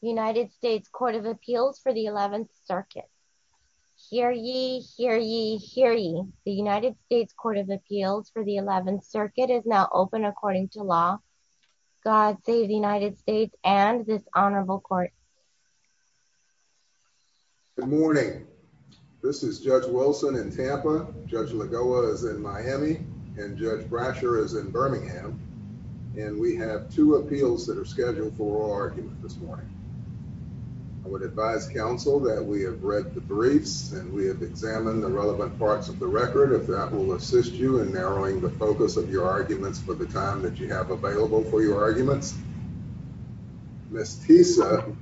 United States Court of Appeals for the 11th Circuit. Hear ye, hear ye, hear ye. The United States Court of Appeals for the 11th Circuit is now open according to law. God save the United States and this honorable court. Good morning. This is Judge Wilson in Tampa, Judge Lagoa is in Miami, and Judge Brasher is in I would advise counsel that we have read the briefs and we have examined the relevant parts of the record. If that will assist you in narrowing the focus of your arguments for the time that you have available for your arguments. Miss Tisa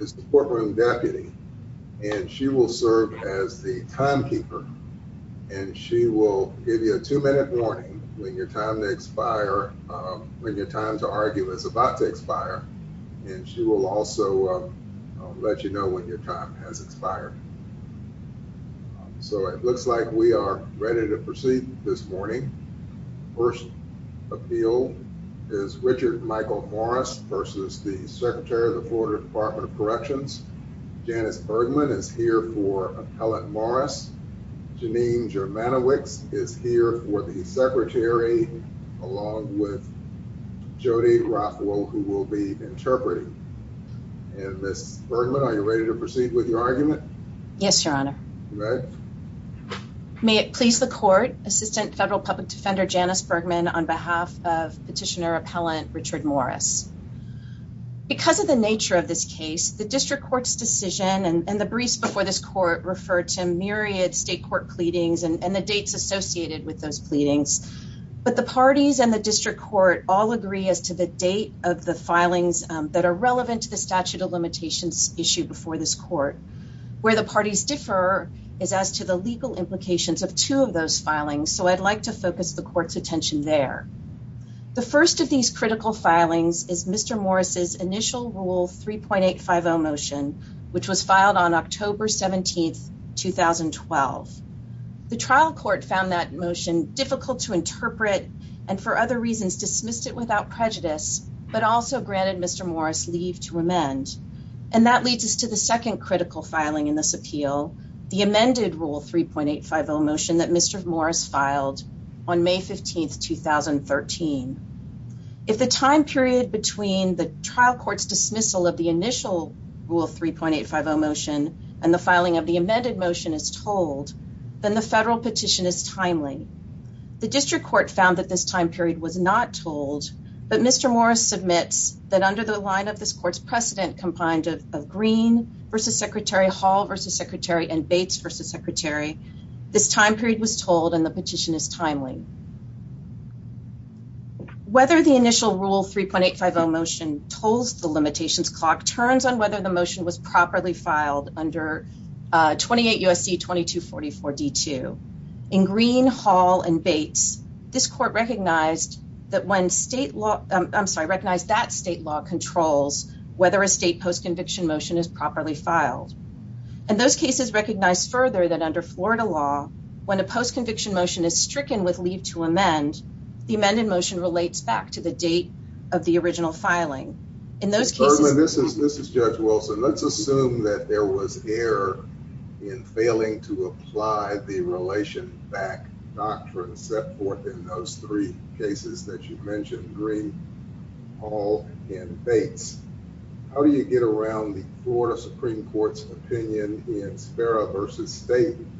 is the courtroom deputy and she will serve as the timekeeper and she will give you a two-minute warning when your time to argue is about to expire and she will also let you know when your time has expired. So it looks like we are ready to proceed this morning. First appeal is Richard Michael Morris versus the Secretary of the Florida Department of Corrections. Janice Bergman is here for will be interpreting. And Miss Bergman, are you ready to proceed with your argument? Yes, your honor. May it please the court, Assistant Federal Public Defender Janice Bergman on behalf of Petitioner Appellant Richard Morris. Because of the nature of this case, the district court's decision and the briefs before this court refer to myriad state court pleadings and the dates associated with those pleadings. But the parties and the district court all agree as to the date of the filings that are relevant to the statute of limitations issued before this court. Where the parties differ is as to the legal implications of two of those filings. So I'd like to focus the court's attention there. The first of these critical filings is Mr. Morris's initial rule 3.850 motion, which was filed on October 17th, 2012. The trial court found that motion difficult to interpret and for other reasons dismissed it without prejudice, but also granted Mr. Morris leave to amend. And that leads us to the second critical filing in this appeal, the amended rule 3.850 motion that Mr. Morris filed on May 15th, 2013. If the time period between the trial court's dismissal of the initial rule 3.850 motion and filing of the amended motion is told, then the federal petition is timely. The district court found that this time period was not told, but Mr. Morris submits that under the line of this court's precedent combined of Green versus Secretary Hall versus Secretary and Bates versus Secretary, this time period was told and the petition is timely. Whether the initial rule 3.850 motion tolls the limitations clock turns on whether the motion was properly filed under 28 U.S.C. 2244 D2. In Green, Hall, and Bates, this court recognized that when state law, I'm sorry, recognized that state law controls whether a state post-conviction motion is properly filed. And those cases recognize further that under Florida law, when a post-conviction motion is stricken with leave to amend, the amended motion relates back to the date of the original filing. In those cases, this is this is Judge Wilson. Let's assume that there was error in failing to apply the relation back doctrine set forth in those three cases that you mentioned, Green, Hall, and Bates. How do you get around the Florida Supreme Court's opinion in Spera versus Staton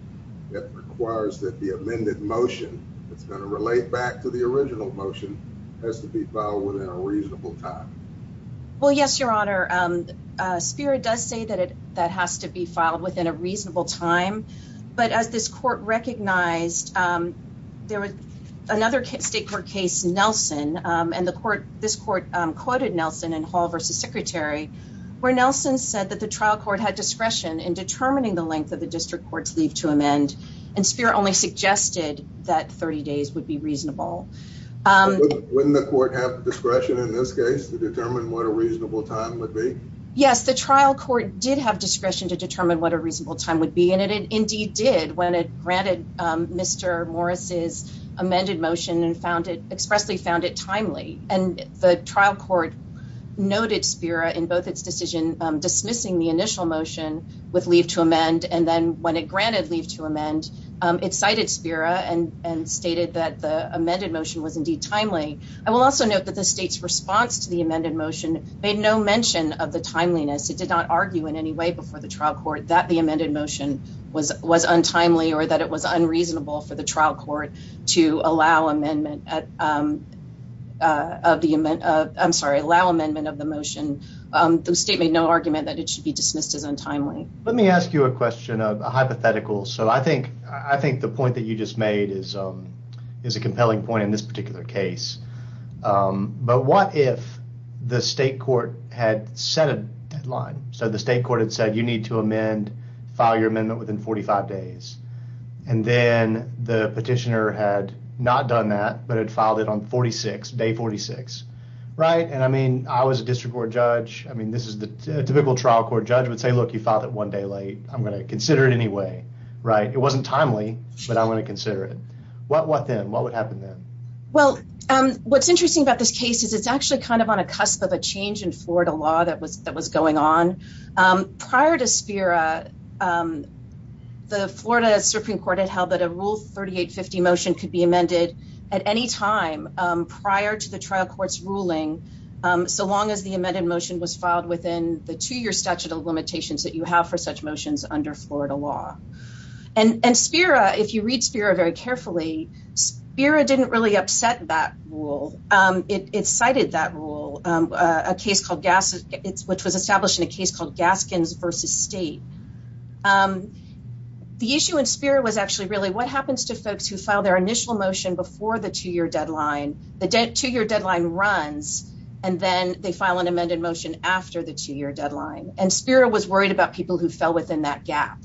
that requires that the amended motion that's going to relate back to the original motion has to be filed within a reasonable time? Well, yes, your honor. Spera does say that it that has to be filed within a reasonable time, but as this court recognized, there was another state court case, Nelson, and the court, this court quoted Nelson in Hall versus Secretary, where Nelson said that the trial court had discretion in determining the length of the district court's leave to amend, and Spera only suggested that 30 days would be reasonable. Wouldn't the court have discretion in this case to determine what a reasonable time would be? Yes, the trial court did have discretion to determine what a reasonable time would be, and it indeed did when it granted Mr. Morris's amended motion and found it expressly found it in both its decision dismissing the initial motion with leave to amend, and then when it granted leave to amend, it cited Spera and stated that the amended motion was indeed timely. I will also note that the state's response to the amended motion made no mention of the timeliness. It did not argue in any way before the trial court that the amended motion was untimely or that it was the state made no argument that it should be dismissed as untimely. Let me ask you a question, a hypothetical. So I think the point that you just made is a compelling point in this particular case, but what if the state court had set a deadline? So the state court had said, you need to amend, file your amendment within 45 days, and then the petitioner had not done that, but had filed it on 46, day 46, right? And I mean, I was a district court judge. I mean, this is the typical trial court judge would say, look, you filed it one day late. I'm going to consider it anyway, right? It wasn't timely, but I'm going to consider it. What then? What would happen then? Well, what's interesting about this case is it's actually kind of on a cusp of a change in Florida law that was going on. Prior to Spera, the Florida Supreme Court had held that a rule 3850 motion could be amended at any time prior to the trial court's ruling, so long as the amended motion was filed within the two-year statute of limitations that you have for such motions under Florida law. And Spera, if you read Spera very carefully, Spera didn't really upset that rule. It cited that rule, which was established in a case called Gaskins v. State. The issue in Spera was actually really what happens to folks who file their initial motion before the two-year deadline. The two-year deadline runs, and then they file an amended motion after the two-year deadline. And Spera was worried about people who fell within that gap.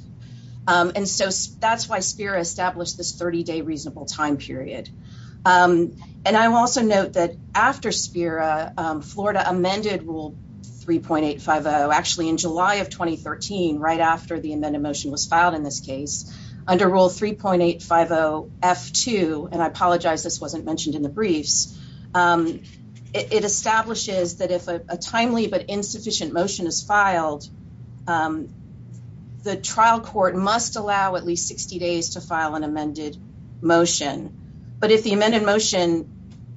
And so that's why Spera established this 30-day reasonable time period. And I will also note that after Spera, Florida amended Rule 3.850, actually in July of 2002, and I apologize this wasn't mentioned in the briefs, it establishes that if a timely but insufficient motion is filed, the trial court must allow at least 60 days to file an amended motion. But if the amended motion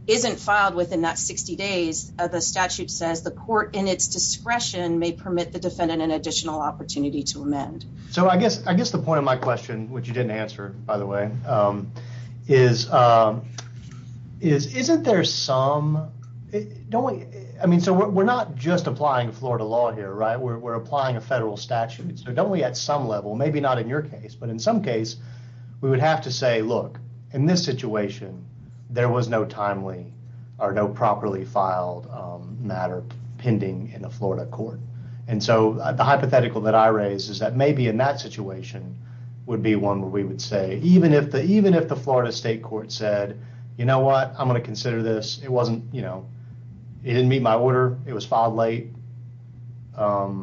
isn't filed within that 60 days, the statute says the court in its discretion may permit the defendant an additional opportunity to amend. So I guess the point of my question, which you didn't answer, by the way, is isn't there some... I mean, so we're not just applying Florida law here, right? We're applying a federal statute. So don't we at some level, maybe not in your case, but in some case, we would have to say, look, in this situation, there was no timely or no properly filed matter pending in a Florida court. And so the hypothetical that I raise is maybe in that situation would be one where we would say, even if the Florida state court said, you know what, I'm going to consider this. It wasn't, you know, it didn't meet my order, it was filed late. It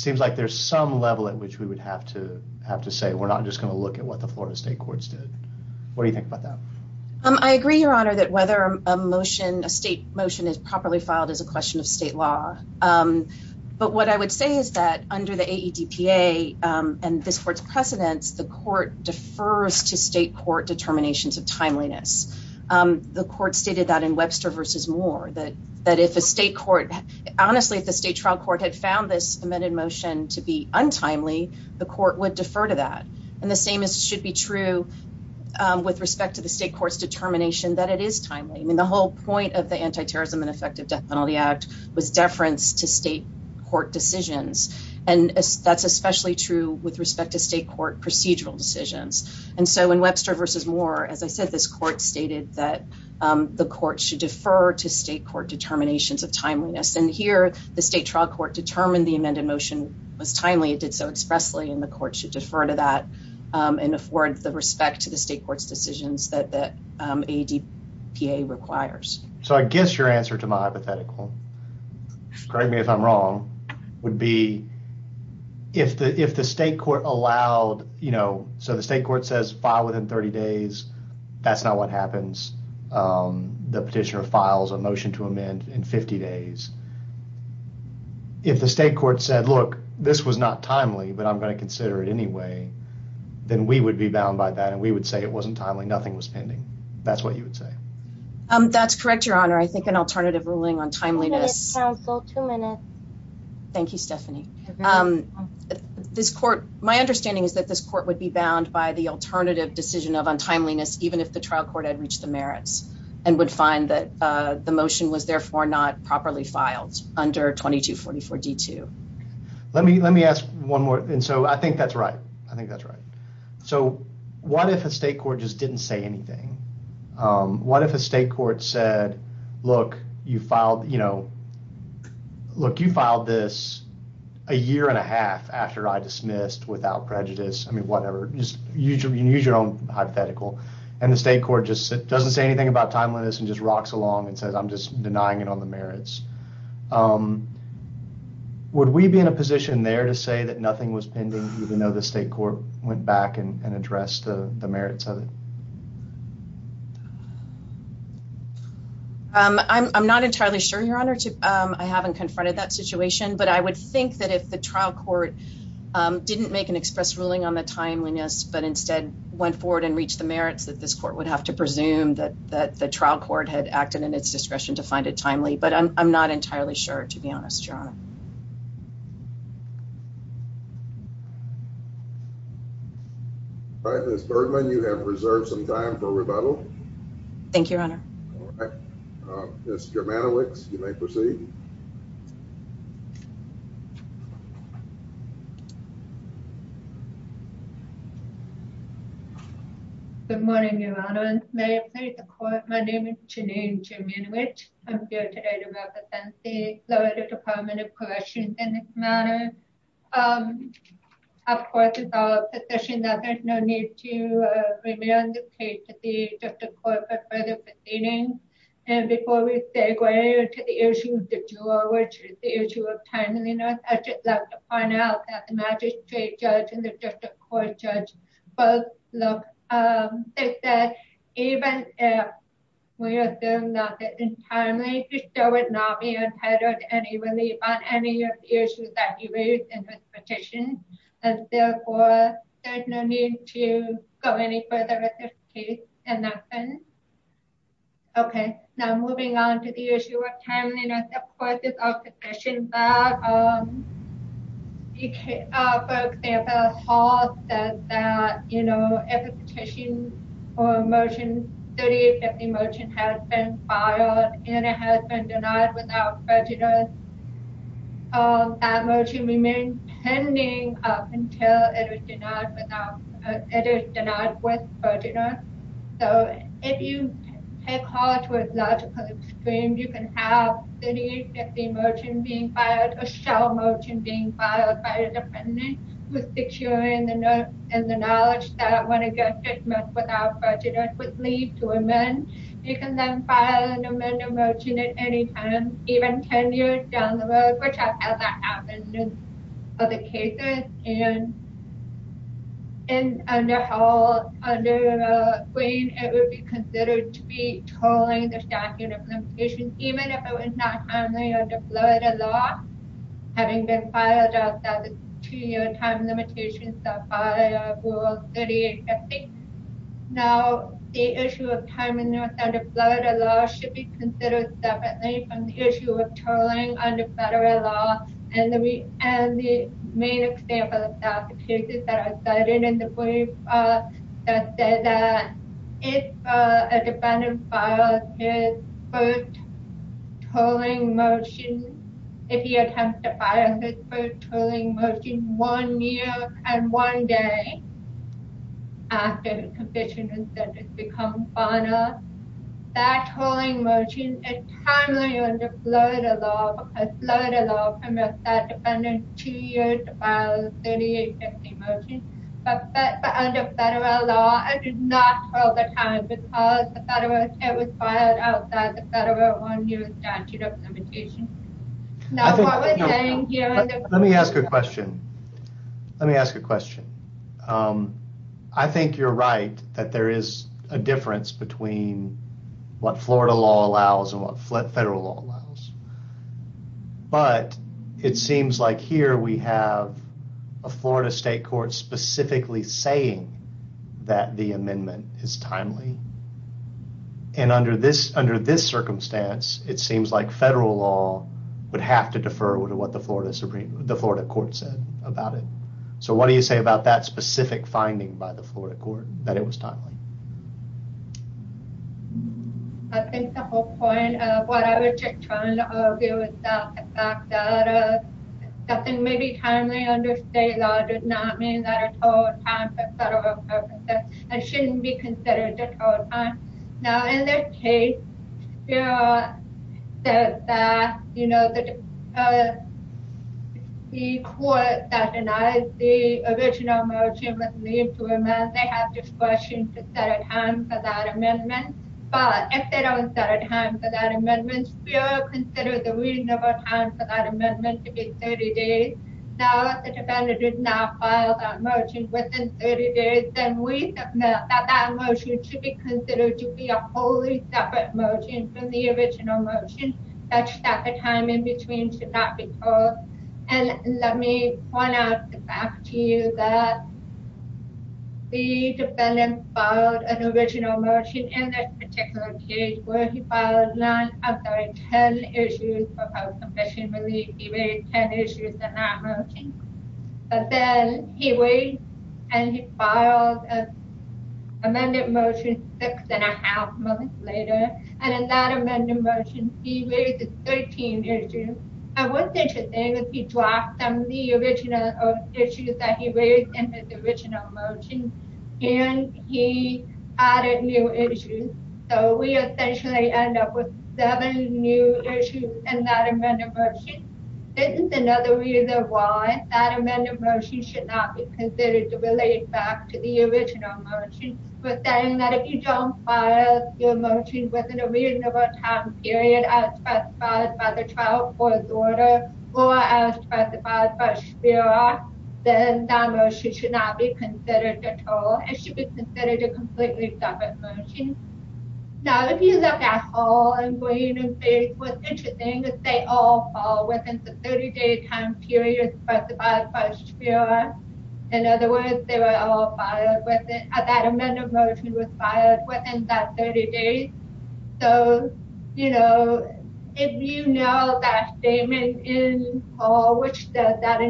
seems like there's some level at which we would have to say we're not just going to look at what the Florida state courts did. What do you think about that? I agree, Your Honor, that whether a motion, a state motion is properly filed is a question of the AEDPA and this court's precedents, the court defers to state court determinations of timeliness. The court stated that in Webster versus Moore, that if a state court, honestly, if the state trial court had found this amended motion to be untimely, the court would defer to that. And the same should be true with respect to the state court's determination that it is timely. I mean, the whole point of the Antiterrorism and Effective Death Penalty Act was deference to that's especially true with respect to state court procedural decisions. And so in Webster versus Moore, as I said, this court stated that the court should defer to state court determinations of timeliness. And here, the state trial court determined the amended motion was timely, it did so expressly, and the court should defer to that and afford the respect to the state court's decisions that the AEDPA requires. So I guess your answer to my hypothetical, correct me if I'm wrong, would be if the state court allowed, you know, so the state court says file within 30 days, that's not what happens. The petitioner files a motion to amend in 50 days. If the state court said, look, this was not timely, but I'm going to consider it anyway, then we would be bound by that. And we would say it an alternative ruling on timeliness. Thank you, Stephanie. This court, my understanding is that this court would be bound by the alternative decision of untimeliness, even if the trial court had reached the merits and would find that the motion was therefore not properly filed under 2244 D2. Let me, let me ask one more. And so I think that's right. I think that's right. So what if a state court just didn't say anything? What if a state court said, look, you filed, you know, look, you filed this a year and a half after I dismissed without prejudice. I mean, whatever, just use your own hypothetical. And the state court just doesn't say anything about timeliness and just rocks along and says, I'm just denying it on the merits. Would we be in a position there to say that nothing was pending, even though the state court went back and addressed the merits of it? I'm not entirely sure, Your Honor. I haven't confronted that situation, but I would think that if the trial court didn't make an express ruling on the timeliness, but instead went forward and reached the merits that this court would have to presume that the trial court had acted in its discretion to find it timely. But I'm not entirely sure, to be honest, Your Honor. All right, Ms. Bergman, you have reserved some time for rebuttal. Thank you, Your Honor. All right, Ms. Germanowicz, you may proceed. Good morning, Your Honor, and may it please the court. My name is Janine Germanowicz. I'm here to represent the Florida Department of Corrections in this matter. Of course, it's our position that there's no need to remand the case to the district court for further proceedings. And before we segue into the issue of the juror, which is the issue of timeliness, I'd just like to point out that the magistrate judge and the district court judge both look, they said even if we assume that it's timely, there would not be entitled to any relief on any of the issues that he raised in his petition. And therefore, there's no need to go any further with this case in that sense. Okay, now moving on to the issue of timeliness, of course, that, for example, Hall said that, you know, if a petition or a motion, 3850 motion has been filed and it has been denied without prejudice, that motion remains pending up until it is denied without, it is denied with prejudice. So if you take Hall to a logical extreme, you can have 3850 motion being filed, a shell motion being filed by a defendant with securing the note and the knowledge that when a judgment without prejudice would lead to a remand, you can then file an amended motion at any time, even 10 years down the road, which I've had that happen in other cases. And under Hall, under Green, it would be considered to be tolling the statute of limitations, even if it was not timely under Florida law, having been filed outside the two-year time limitations set by Rule 3850. Now, the issue of timeliness under Florida law should be considered separately from the issue of tolling under federal law and the main example of that, cases that are cited in the brief that say that if a defendant files his first tolling motion, if he attempts to file his first tolling motion one year and one day after his conviction has become final, that tolling motion is timely under Florida law because Florida law permits that defendant two years to file his 3850 motion, but under federal law, it is not tolled at times because it was filed outside the federal one-year statute of limitations. Now, what we're saying here... Let me ask a question. Let me ask a question. I think you're right that there is a difference between what Florida law allows and what federal law allows, but it seems like here we have a Florida state court specifically saying that the amendment is timely and under this circumstance, it seems like federal law would have to defer to what the Florida court said about it, so what do you say about that specific finding by the Florida court that it was timely? I think the whole point of what I was just trying to argue is that the fact that something may be timely under state law does not mean that it's tolled at times for federal purposes and shouldn't be considered to toll time. Now, in this case, the court that denies the original motion would leave to amend. They have discretion to set a time for that amendment, but if they don't set a time for that amendment, we will consider the reasonable time for that amendment to be 30 days. Now, if the defendant did not file that motion within 30 days, then we submit that that motion should be considered to be a wholly separate motion from the original motion such that the time in between should not be tolled, and let me point out the fact to you that the defendant filed an original motion in this particular case where he filed nine, I'm sorry, 10 issues for health permission relief. He raised 10 issues in that motion, but then he raised and he filed an amended motion six and a half months later, and in that amended motion, he raised 13 issues, and what's interesting is he dropped some of the original issues that he raised in his original motion, and he added new issues, so we essentially end up with seven new issues in that amended motion. This is another reason why that amended motion should not be considered to relate back to the original motion. We're saying that if you don't file your motion within a reasonable time period as specified by the trial court's order, or as specified by Shpira, then that motion should not be considered to toll. It should be considered a completely separate motion. Now, if you look at Hall and Green and Faith, what's interesting is they all fall within the 30-day time period specified by Shpira. In other words, they were all filed within, that amended motion was filed within that 30 days, so, you know, if you know that statement in Hall which says that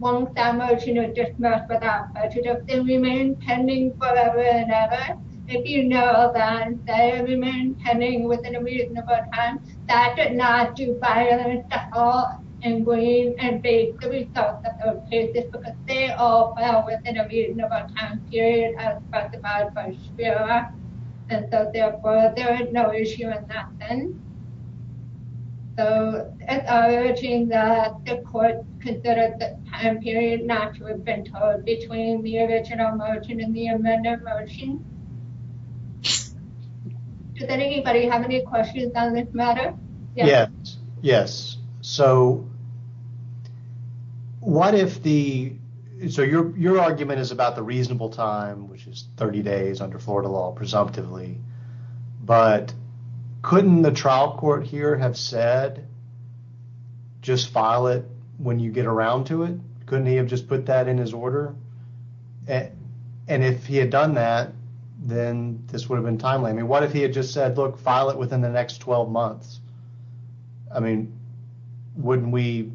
once that motion is dismissed without prejudice, they remain pending forever and ever. If you know that they remain pending within a reasonable time, that did not do violence to Hall and Green and Faith the results of those cases because they all fell within a reasonable time period as specified by Shpira, and so, therefore, there is no issue in that sense. So, it's urging that the court consider the time period not to have been tolled between the original motion and the amended motion. Does anybody have any questions on this matter? Yes, yes. So, what if the, so your argument is about the reasonable time, which is 30 days under Florida law, presumptively, but couldn't the trial court here have said just file it when you get around to it? Couldn't he have just put that in his order? And if he had done that, then this would have been timely. I mean, what if he had just said, look, file it within the next 12 months? I mean, wouldn't we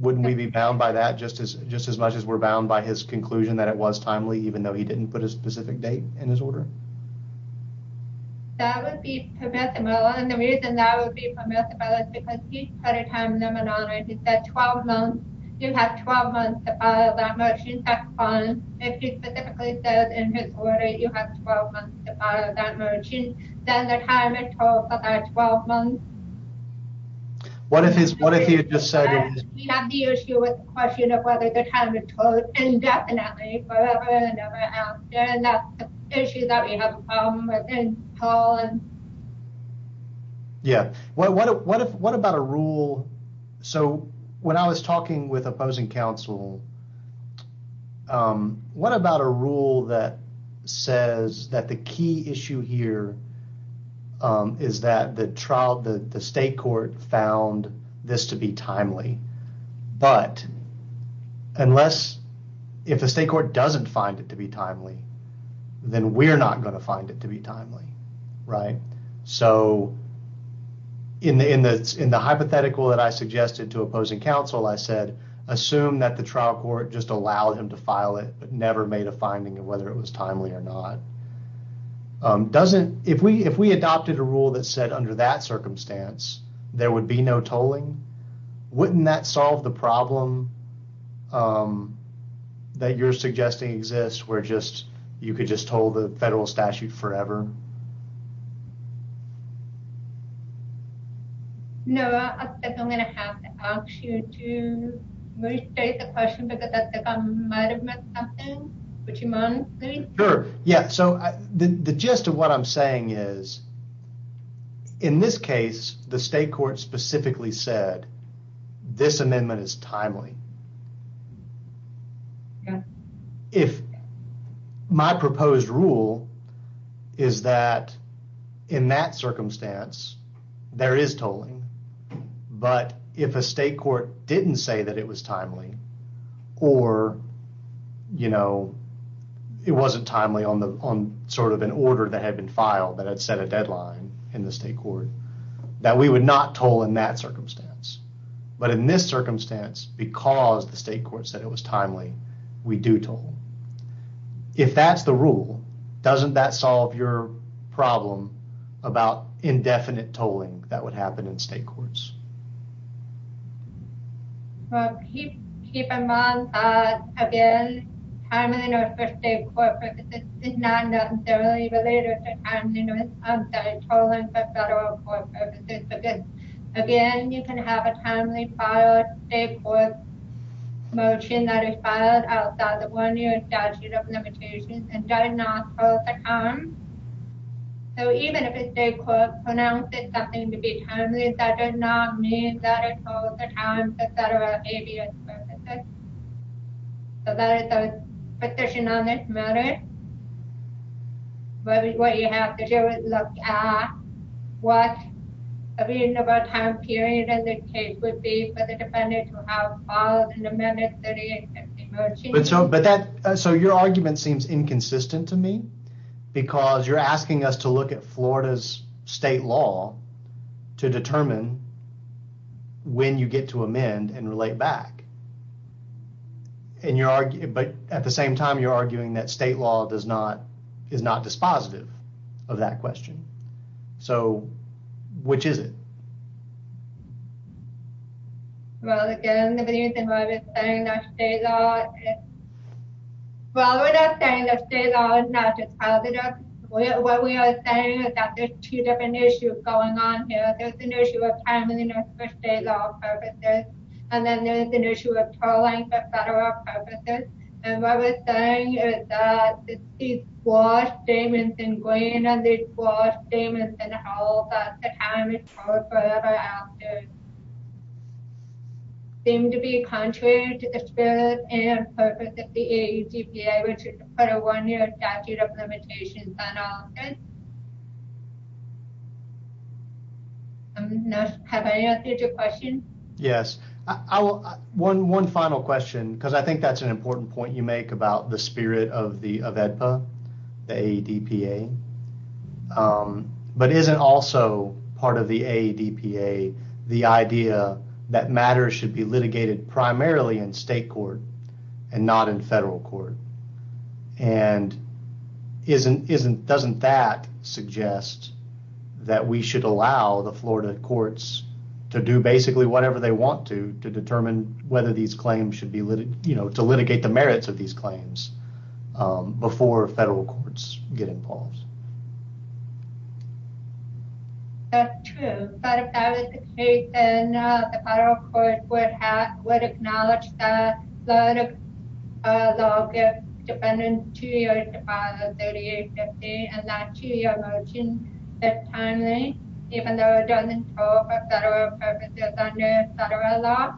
be bound by that just as much as we're bound by his conclusion that it was timely, even though he didn't put a specific date in his order? That would be permissible, and the reason that would be permissible is because he had a time limit on it. He said 12 months to file that motion. If he specifically says in his order you have 12 months to file that motion, then the time is tolled for that 12 months. What if he had just said, we have the issue with the question of whether the time is tolled indefinitely, forever and ever after, and that's the issue that we have a problem with in Poland. Yeah. What about a rule? So when I was talking with opposing counsel, what about a rule that says that the key issue here is that the state court found this to be timely, but unless if the state court doesn't find it to be timely, then we're not going to find it timely, right? So in the hypothetical that I suggested to opposing counsel, I said, assume that the trial court just allowed him to file it, but never made a finding of whether it was timely or not. If we adopted a rule that said under that circumstance, there would be no tolling, wouldn't that solve the problem that you're suggesting exists where you could just toll the federal statute forever? No, I think I'm going to have to ask you to restate the question because I think I might have missed something. Would you mind? Sure. Yeah. So the gist of what I'm saying is in this case, the state court specifically said this amendment is timely. Yeah. If my proposed rule is that in that circumstance, there is tolling, but if a state court didn't say that it was timely or, you know, it wasn't timely on the, on sort of an order that had been filed that had set a deadline in the state court that we would not toll in that circumstance, because the state court said it was timely, we do toll. If that's the rule, doesn't that solve your problem about indefinite tolling that would happen in state courts? Well, keep in mind that again, timely notice for state court purposes is not necessarily a timely notice of tolling for federal court purposes. Again, you can have a timely filed state court motion that is filed outside the one year statute of limitations and does not toll the time. So even if a state court pronounces something to be timely, that does not mean that it tolls the time for federal avius purposes. So that is our position on this matter. What you have to do is look at what a reasonable time period in this case would be for the defendant to have filed an amended 3850 motion. But so, but that, so your argument seems inconsistent to me because you're asking us to look at Florida's state law to determine when you get to amend and relate back. And you're arguing, but at the same time, you're arguing that state law does not dispositive of that question. So which is it? Well, again, the reason why we're saying that state law is not dispositive, what we are saying is that there's two different issues going on here. There's an issue of timely notice for state law purposes. And then there's an issue of tolling for federal purposes. And what we're saying is that the state law statements ingrained on these law statements and how the time is tolled forever after seem to be contrary to the spirit and purpose of the AEGPA, which is to put a one year statute of limitations on offense. Have I answered your question? Yes. One final question, because I think that's an important point you make about the spirit of AEDPA, the AEDPA, but isn't also part of the AEDPA, the idea that matters should be litigated primarily in state court and not in federal court. And doesn't that suggest that we should allow the Florida courts to do basically whatever they want to, to determine whether these claims should be, you know, to litigate the merits of these claims before federal courts get involved? That's true. But if that was the case, then the federal court would acknowledge that law gives defendants two years to file a 3850 and that two year motion is timely, even though it doesn't toll for federal purposes under federal law.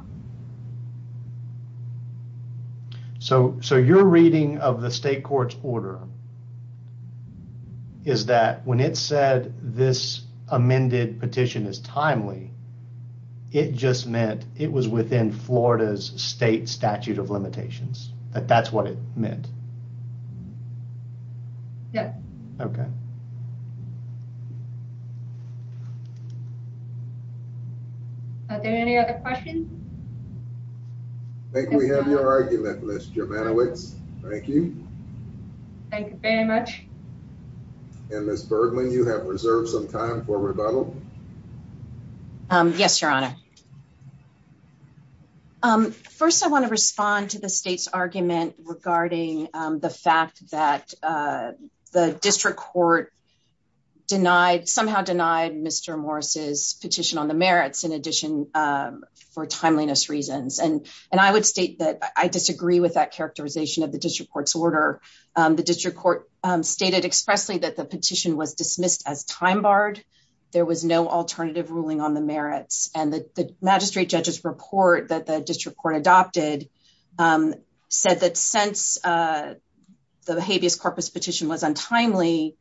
So, so your reading of the state court's order is that when it said this amended petition is timely, it just meant it was within Florida's state statute of limitations, that that's what it meant. Yeah. Okay. Are there any other questions? I think we have your argument, Ms. Germanowicz. Thank you. Thank you very much. And Ms. Bergman, you have reserved some time for rebuttal. Yes, your honor. First, I want to respond to the state's argument regarding the fact that the district court denied, somehow denied Mr. Morris's petition on the merits in addition for timeliness reasons. And I would state that I disagree with that characterization of the district court's order. The district court stated expressly that the petition was dismissed as time barred. There was no alternative ruling on the merits. And the magistrate judge's report that the district court adopted said that since the habeas corpus petition was untimely,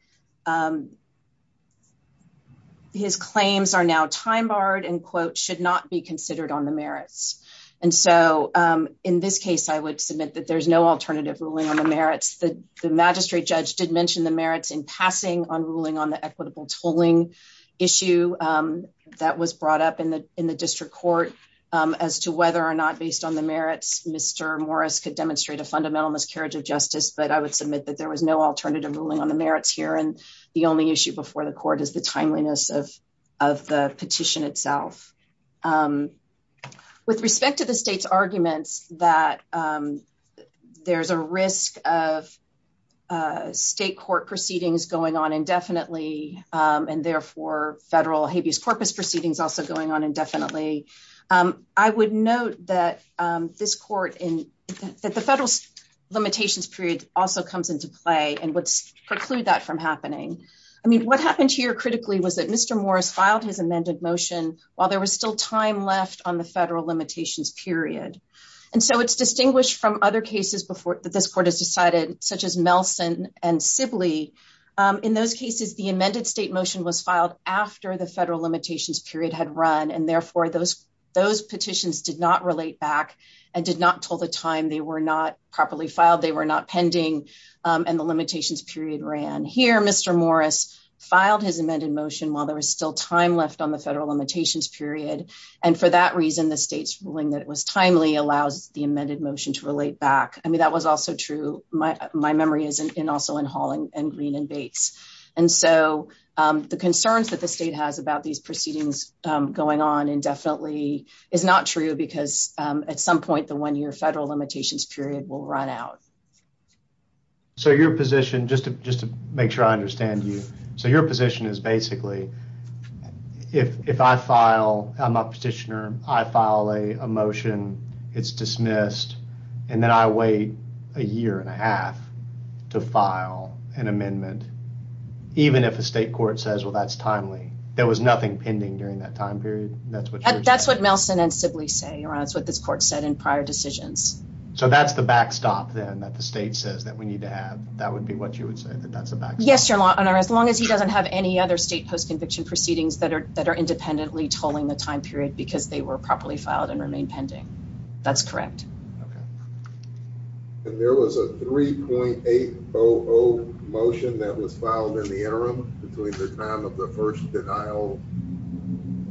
his claims are now time barred and quote, should not be considered on the merits. And so in this case, I would submit that there's no alternative ruling on the merits. The magistrate judge did mention the merits in passing on ruling on the equitable tolling issue that was brought up in the district court as to whether or not based on the merits, Mr. Morris could demonstrate a fundamental miscarriage of justice. But I would submit that there was no alternative ruling on the merits here. And the only issue before the court is the timeliness of the petition itself. With respect to the state's arguments that there's a risk of state court proceedings going on indefinitely, and therefore federal habeas corpus proceedings also going on indefinitely, I would note that the federal limitations period also comes into play and would preclude that from happening. I mean, what happened here critically was that Mr. Morris filed his amended motion while there was still time left on the federal limitations period. And so it's distinguished from other cases that this court has decided, such as Melson and Sibley. In those cases, the amended state motion was filed after the federal limitations period had run, and therefore those petitions did not relate back and did not tell the time they were not properly filed, they were not pending, and the limitations period ran. Here, Mr. Morris filed his amended motion while there was still time left on the federal limitations period. And for that reason, the state's ruling that it was timely allows the my memory is also in Hall and Green and Bates. And so the concerns that the state has about these proceedings going on indefinitely is not true, because at some point the one-year federal limitations period will run out. So your position, just to make sure I understand you, so your position is basically, if I file, I'm a petitioner, I file a motion, it's dismissed, and then I wait a year and a half to file an amendment, even if a state court says, well, that's timely, there was nothing pending during that time period, that's what you're saying? That's what Melson and Sibley say, or that's what this court said in prior decisions. So that's the backstop then that the state says that we need to have, that would be what you would say, that that's a backstop? Yes, your honor, as long as he doesn't have any other state post-conviction proceedings that are independently tolling the time period because they were properly filed and remain pending. That's correct. And there was a 3.800 motion that was filed in the interim between the time of the first denial?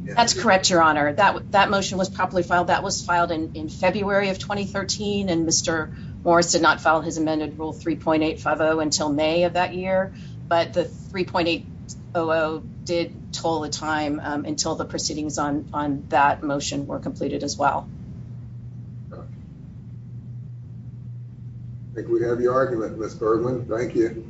That's correct, your honor, that motion was properly filed, that was filed in February of 2013, and Mr. Morris did not file his amended rule 3.850 until May of that year, but the 3.800 did toll the time until the proceedings on that motion were completed as well. I think we have your argument, Ms. Bergman, thank you. Thank you.